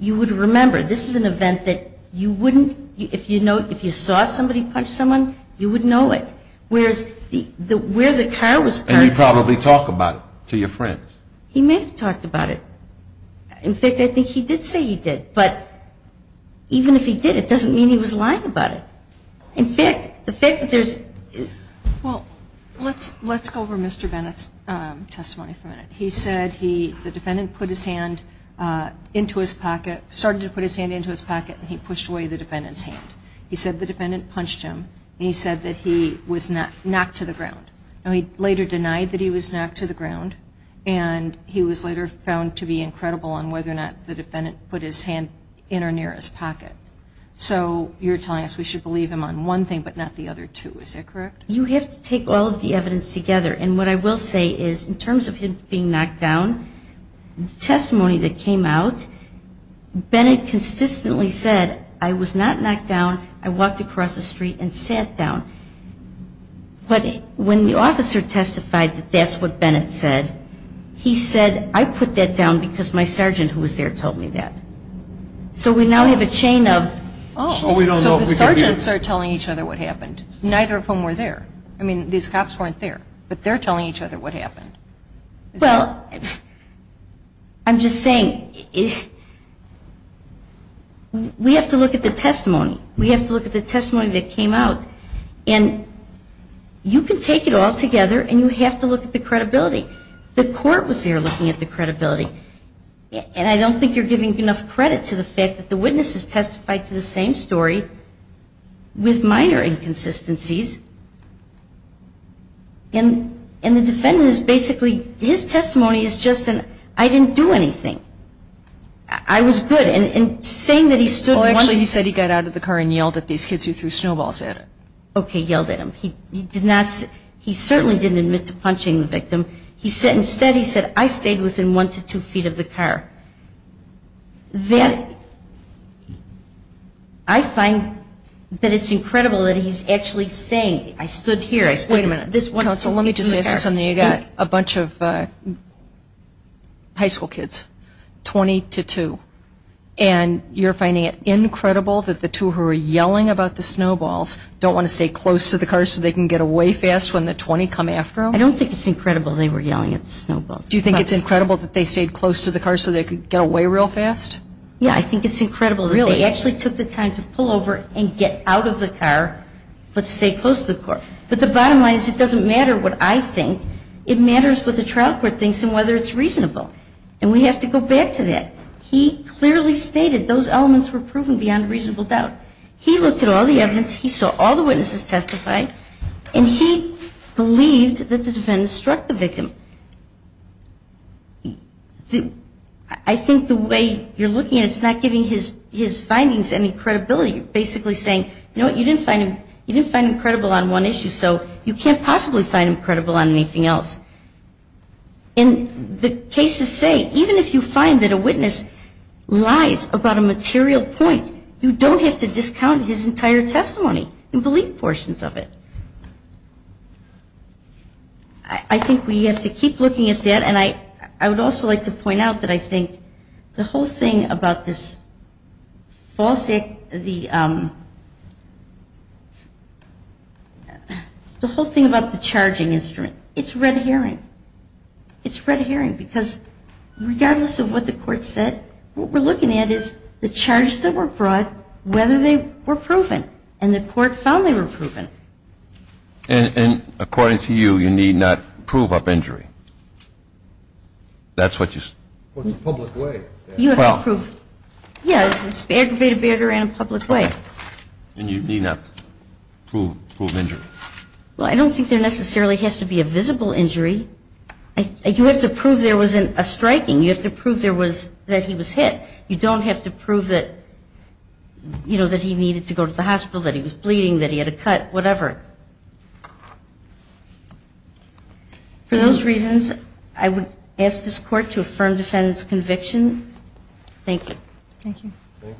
you would remember. This is an event that you wouldn't, if you saw somebody punch someone, you would know it. Whereas where the car was parked. And you probably talk about it to your friends. He may have talked about it. In fact, I think he did say he did. But even if he did, it doesn't mean he was lying about it. In fact, the fact that there's. Well, let's go over Mr. Bennett's testimony for a minute. He said the defendant put his hand into his pocket, started to put his hand into his pocket, and he pushed away the defendant's hand. He said the defendant punched him, and he said that he was knocked to the ground. And he later denied that he was knocked to the ground, and he was later found to be incredible on whether or not the defendant put his hand in or near his pocket. So you're telling us we should believe him on one thing but not the other two. Is that correct? You have to take all of the evidence together. And what I will say is in terms of him being knocked down, the testimony that came out, Bennett consistently said, I was not knocked down. I walked across the street and sat down. But when the officer testified that that's what Bennett said, he said, I put that down because my sergeant who was there told me that. So we now have a chain of. So the sergeants are telling each other what happened. Neither of whom were there. I mean, these cops weren't there. But they're telling each other what happened. Well, I'm just saying, we have to look at the testimony. We have to look at the testimony that came out. And you can take it all together, and you have to look at the credibility. The court was there looking at the credibility. And I don't think you're giving enough credit to the fact that the witness has testified to the same story with minor inconsistencies. And the defendant is basically, his testimony is just an, I didn't do anything. I was good. And saying that he stood. Well, actually, he said he got out of the car and yelled at these kids who threw snowballs at him. Okay, yelled at him. He certainly didn't admit to punching the victim. Instead, he said, I stayed within one to two feet of the car. Then I find that it's incredible that he's actually saying, I stood here. Wait a minute. Counsel, let me just ask you something. You've got a bunch of high school kids, 20 to 2. And you're finding it incredible that the two who are yelling about the snowballs don't want to stay close to the car so they can get away fast when the 20 come after them? I don't think it's incredible they were yelling at the snowballs. Do you think it's incredible that they stayed close to the car so they could get away real fast? Yeah, I think it's incredible that they actually took the time to pull over and get out of the car but stay close to the car. But the bottom line is it doesn't matter what I think. It matters what the trial court thinks and whether it's reasonable. And we have to go back to that. He clearly stated those elements were proven beyond reasonable doubt. He looked at all the evidence. He saw all the witnesses testify. And he believed that the defendants struck the victim. I think the way you're looking at it, it's not giving his findings any credibility. You're basically saying, you know what, you didn't find him credible on one issue, so you can't possibly find him credible on anything else. And the cases say even if you find that a witness lies about a material point, you don't have to discount his entire testimony in belief portions of it. I think we have to keep looking at that. And I would also like to point out that I think the whole thing about this false act, the whole thing about the charging instrument, it's red herring. It's red herring because regardless of what the court said, what we're looking at is the charges that were brought, whether they were proven. And the court found they were proven. And according to you, you need not prove up injury. That's what you're saying. Well, it's a public way. You have to prove. Yeah, it's aggravated behavior in a public way. And you need not prove injury. Well, I don't think there necessarily has to be a visible injury. You have to prove there wasn't a striking. You have to prove that he was hit. You don't have to prove that he needed to go to the hospital, that he was bleeding, that he had a cut, whatever. For those reasons, I would ask this court to affirm defendant's conviction. Thank you. Thank you. Thank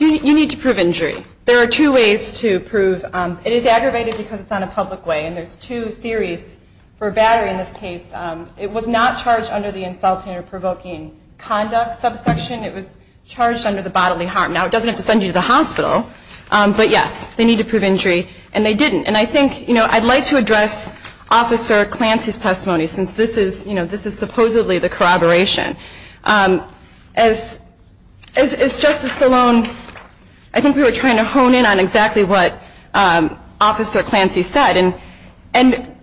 you. You need to prove injury. There are two ways to prove. It is aggravated because it's on a public way. And there's two theories for battery in this case. It was not charged under the insulting or provoking conduct subsection. It was charged under the bodily harm. Now, it doesn't have to send you to the hospital. But, yes, they need to prove injury. And they didn't. And I think I'd like to address Officer Clancy's testimony since this is supposedly the corroboration. As Justice Stallone, I think we were trying to hone in on exactly what Officer Clancy said. And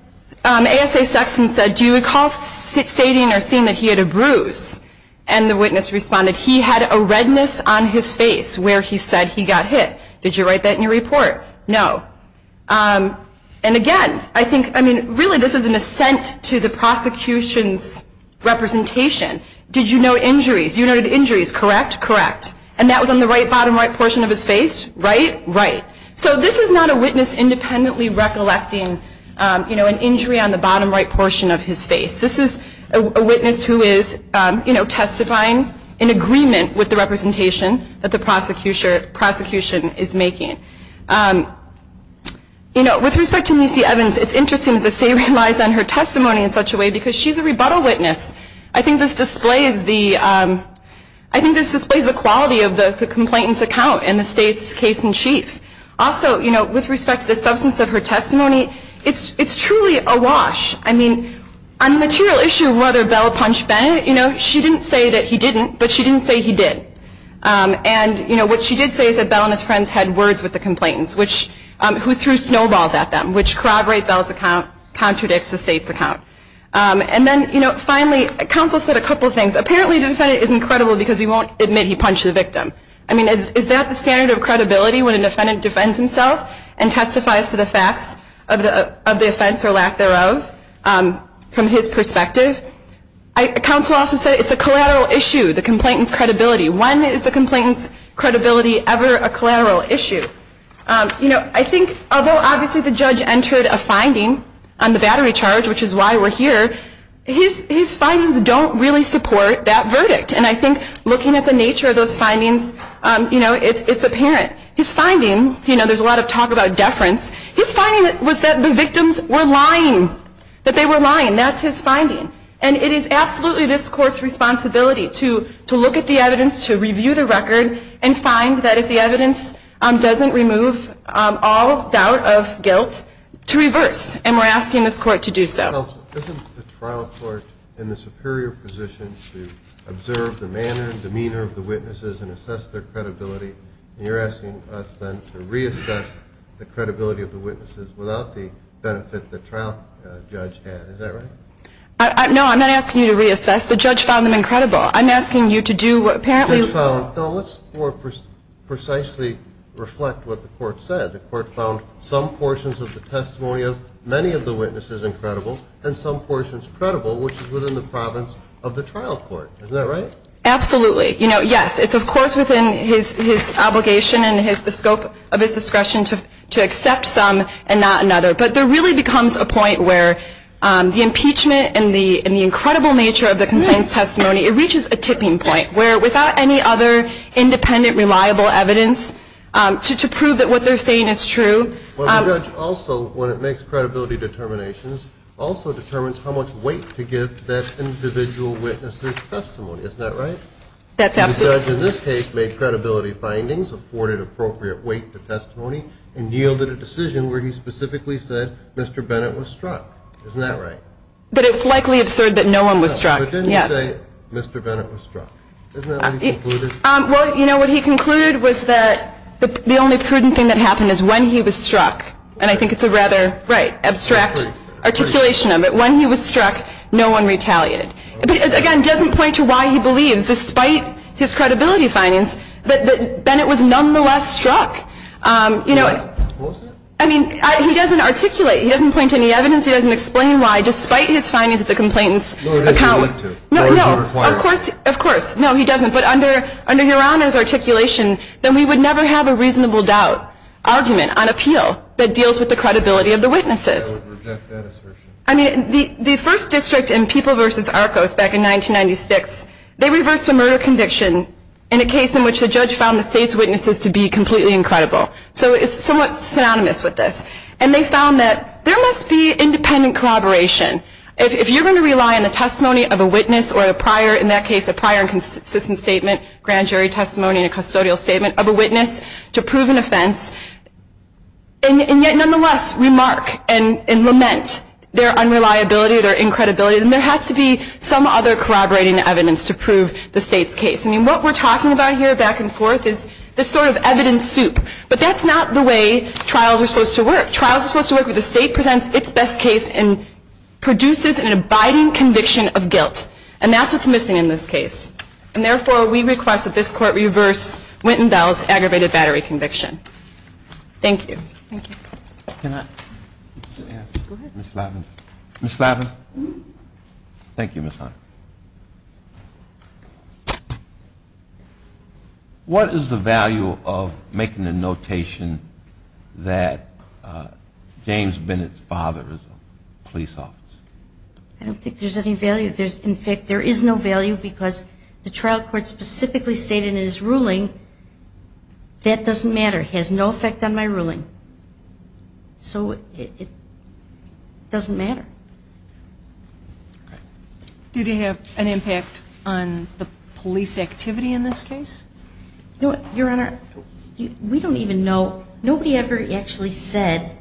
ASA Sexton said, do you recall stating or seeing that he had a bruise? And the witness responded, he had a redness on his face where he said he got hit. Did you write that in your report? No. And, again, I think, I mean, really this is an assent to the prosecution's representation. Did you note injuries? You noted injuries, correct? Correct. And that was on the right bottom right portion of his face, right? Right. So this is not a witness independently recollecting an injury on the bottom right portion of his face. This is a witness who is testifying in agreement with the representation that the prosecution is making. You know, with respect to Missy Evans, it's interesting that the state relies on her testimony in such a way because she's a rebuttal witness. I think this displays the quality of the complainant's account in the state's case in chief. Also, you know, with respect to the substance of her testimony, it's truly awash. I mean, on the material issue of whether Bell punched Bennett, you know, she didn't say that he didn't, but she didn't say he did. And, you know, what she did say is that Bell and his friends had words with the complainants, who threw snowballs at them, which corroborate Bell's account, contradicts the state's account. And then, you know, finally, counsel said a couple of things. Apparently the defendant isn't credible because he won't admit he punched the victim. I mean, is that the standard of credibility when an defendant defends himself and testifies to the facts of the offense or lack thereof from his perspective? Counsel also said it's a collateral issue, the complainant's credibility. When is the complainant's credibility ever a collateral issue? You know, I think although obviously the judge entered a finding on the battery charge, which is why we're here, his findings don't really support that verdict. And I think looking at the nature of those findings, you know, it's apparent. His finding, you know, there's a lot of talk about deference. And that's his finding. And it is absolutely this court's responsibility to look at the evidence, to review the record, and find that if the evidence doesn't remove all doubt of guilt, to reverse. And we're asking this court to do so. Counsel, isn't the trial court in the superior position to observe the manner and demeanor of the witnesses and assess their credibility, and you're asking us then to reassess the credibility of the witnesses without the benefit the trial judge had. Is that right? No, I'm not asking you to reassess. The judge found them incredible. I'm asking you to do what apparently was. No, let's more precisely reflect what the court said. The court found some portions of the testimony of many of the witnesses incredible and some portions credible, which is within the province of the trial court. Isn't that right? Absolutely. You know, yes, it's of course within his obligation and the scope of his discretion to accept some and not another, but there really becomes a point where the impeachment and the incredible nature of the contents testimony, it reaches a tipping point where without any other independent, reliable evidence to prove that what they're saying is true. Well, the judge also, when it makes credibility determinations, also determines how much weight to give to that individual witness's testimony. Isn't that right? That's absolutely true. And yielded a decision where he specifically said Mr. Bennett was struck. Isn't that right? But it's likely absurd that no one was struck. Yes. But didn't he say Mr. Bennett was struck? Isn't that what he concluded? Well, you know, what he concluded was that the only prudent thing that happened is when he was struck, and I think it's a rather, right, abstract articulation of it. When he was struck, no one retaliated. But again, it doesn't point to why he believes, despite his credibility findings, that Bennett was nonetheless struck. What was it? I mean, he doesn't articulate. He doesn't point to any evidence. He doesn't explain why, despite his findings at the complainant's account. No, he doesn't need to. No, no. Or is he required? Of course. No, he doesn't. But under Your Honor's articulation, then we would never have a reasonable doubt, argument on appeal that deals with the credibility of the witnesses. I would reject that assertion. I mean, the first district in People v. Arcos back in 1996, they reversed a murder conviction in a case in which the judge found the state's witnesses to be completely incredible. So it's somewhat synonymous with this. And they found that there must be independent corroboration. If you're going to rely on the testimony of a witness or, in that case, a prior and consistent statement, grand jury testimony, a custodial statement of a witness to prove an offense, and yet nonetheless remark and lament their unreliability, their incredibility, then there has to be some other corroborating evidence to prove the state's case. I mean, what we're talking about here back and forth is this sort of evidence soup. But that's not the way trials are supposed to work. Trials are supposed to work where the state presents its best case and produces an abiding conviction of guilt. And that's what's missing in this case. And therefore, we request that this Court reverse Winton Bell's aggravated battery conviction. Thank you. Thank you. Can I? Go ahead. Ms. Lavins. Ms. Lavins. Thank you, Ms. Hunter. What is the value of making a notation that James Bennett's father is a police officer? I don't think there's any value. In fact, there is no value because the trial court specifically stated in his ruling, that doesn't matter. It has no effect on my ruling. So it doesn't matter. Did it have an impact on the police activity in this case? Your Honor, we don't even know. Nobody ever actually said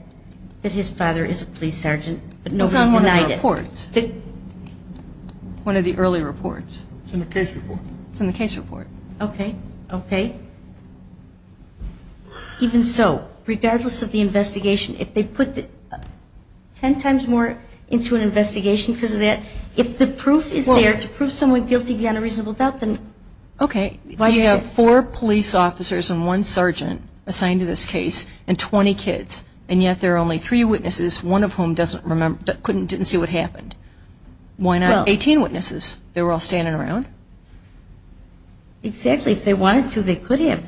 that his father is a police sergeant, but nobody denied it. It's on one of the reports, one of the early reports. It's in the case report. It's in the case report. Okay. Okay. Even so, regardless of the investigation, if they put ten times more into an investigation because of that, if the proof is there to prove someone guilty beyond a reasonable doubt, then why is it? Okay. You have four police officers and one sergeant assigned to this case and 20 kids, and yet there are only three witnesses, one of whom didn't see what happened. Why not 18 witnesses? They were all standing around? Exactly. If they wanted to, they could have.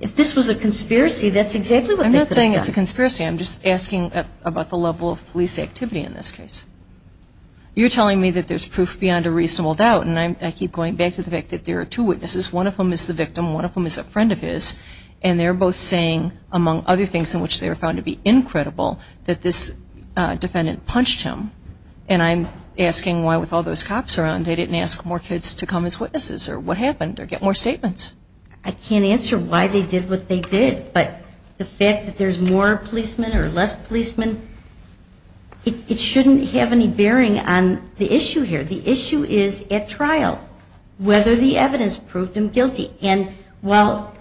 If this was a conspiracy, that's exactly what they could have done. I'm not saying it's a conspiracy. I'm just asking about the level of police activity in this case. You're telling me that there's proof beyond a reasonable doubt, and I keep going back to the fact that there are two witnesses. One of them is the victim. One of them is a friend of his, and they're both saying, among other things in which they were found to be incredible, that this defendant punched him. And I'm asking why, with all those cops around, they didn't ask more kids to come as witnesses or what happened or get more statements. I can't answer why they did what they did, but the fact that there's more policemen or less policemen, it shouldn't have any bearing on the issue here. The issue is at trial whether the evidence proved him guilty. And while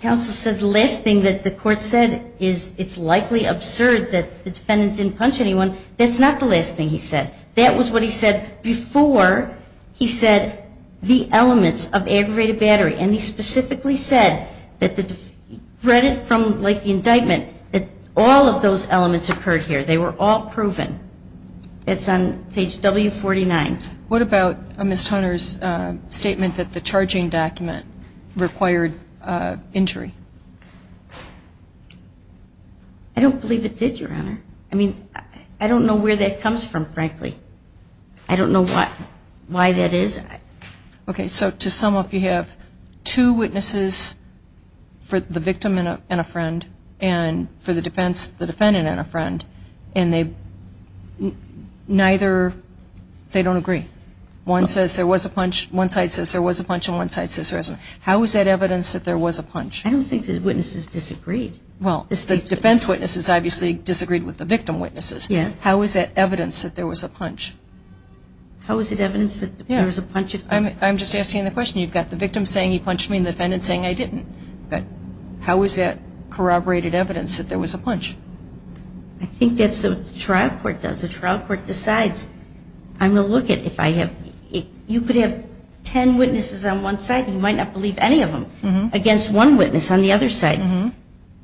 counsel said the last thing that the court said is it's likely absurd that the defendant didn't punch anyone, that's not the last thing he said. That was what he said before he said the elements of aggravated battery. And he specifically said that the credit from, like, the indictment, that all of those elements occurred here. They were all proven. It's on page W49. What about Ms. Turner's statement that the charging document required injury? I don't believe it did, Your Honor. I mean, I don't know where that comes from, frankly. I don't know why that is. Okay, so to sum up, you have two witnesses for the victim and a friend and for the defense, the defendant and a friend, and neither, they don't agree. One says there was a punch, one side says there was a punch, and one side says there wasn't. How is that evidence that there was a punch? I don't think the witnesses disagreed. Well, the defense witnesses obviously disagreed with the victim witnesses. Yes. How is that evidence that there was a punch? How is it evidence that there was a punch? I'm just asking the question. You've got the victim saying he punched me and the defendant saying I didn't. How is that corroborated evidence that there was a punch? I think that's what the trial court does. The trial court decides. I'm going to look at if I have, you could have ten witnesses on one side, you might not believe any of them, against one witness on the other side.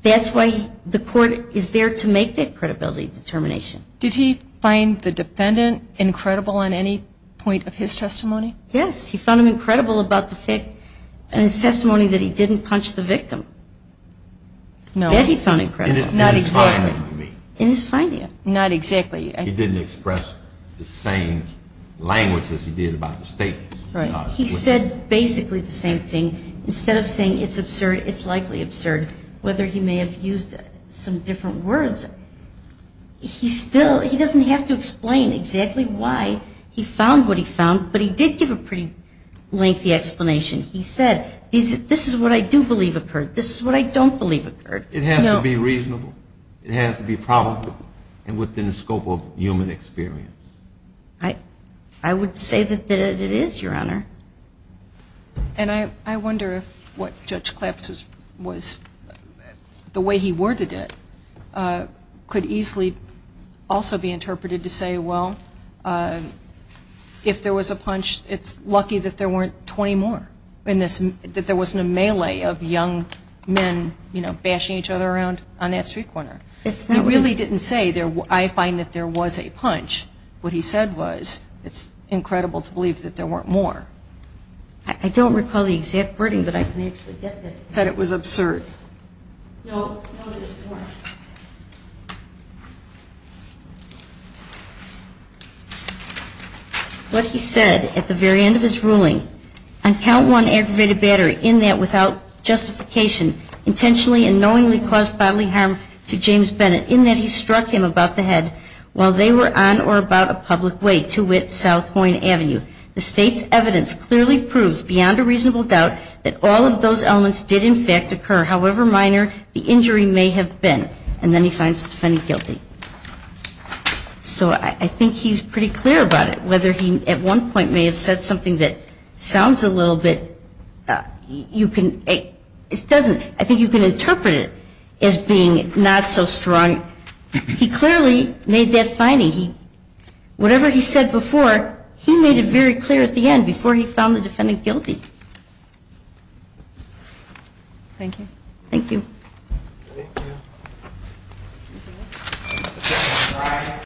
That's why the court is there to make that credibility determination. Did he find the defendant incredible in any point of his testimony? Yes. He found him incredible about the fact in his testimony that he didn't punch the victim. No. That he found incredible. Not exactly. In his finding, you mean. In his finding. Not exactly. He didn't express the same language as he did about the statements. Right. He said basically the same thing. Instead of saying it's absurd, it's likely absurd, whether he may have used some different words, he still, he doesn't have to explain exactly why he found what he found, but he did give a pretty lengthy explanation. He said, this is what I do believe occurred. This is what I don't believe occurred. It has to be reasonable. It has to be probable and within the scope of human experience. I would say that it is, Your Honor. And I wonder if what Judge Claps was, the way he worded it, could easily also be interpreted to say, well, if there was a punch, it's lucky that there weren't 20 more, that there wasn't a melee of young men, you know, bashing each other around on that street corner. It's not. He really didn't say, I find that there was a punch. What he said was, it's incredible to believe that there weren't more. I don't recall the exact wording, but I can actually get that. He said it was absurd. No, it wasn't. What he said at the very end of his ruling, on count one aggravated battery, in that without justification, intentionally and knowingly caused bodily harm to James Bennett, in that he struck him about the head while they were on or about a public way, to wit, South Point Avenue. The State's evidence clearly proves, beyond a reasonable doubt, that all of those elements did in fact occur, however minor the injury may have been. And then he finds the defendant guilty. So I think he's pretty clear about it, whether he at one point may have said something that sounds a little bit, I think you can interpret it as being not so strong. He clearly made that finding. Whatever he said before, he made it very clear at the end, before he found the defendant guilty. Thank you. Thank you.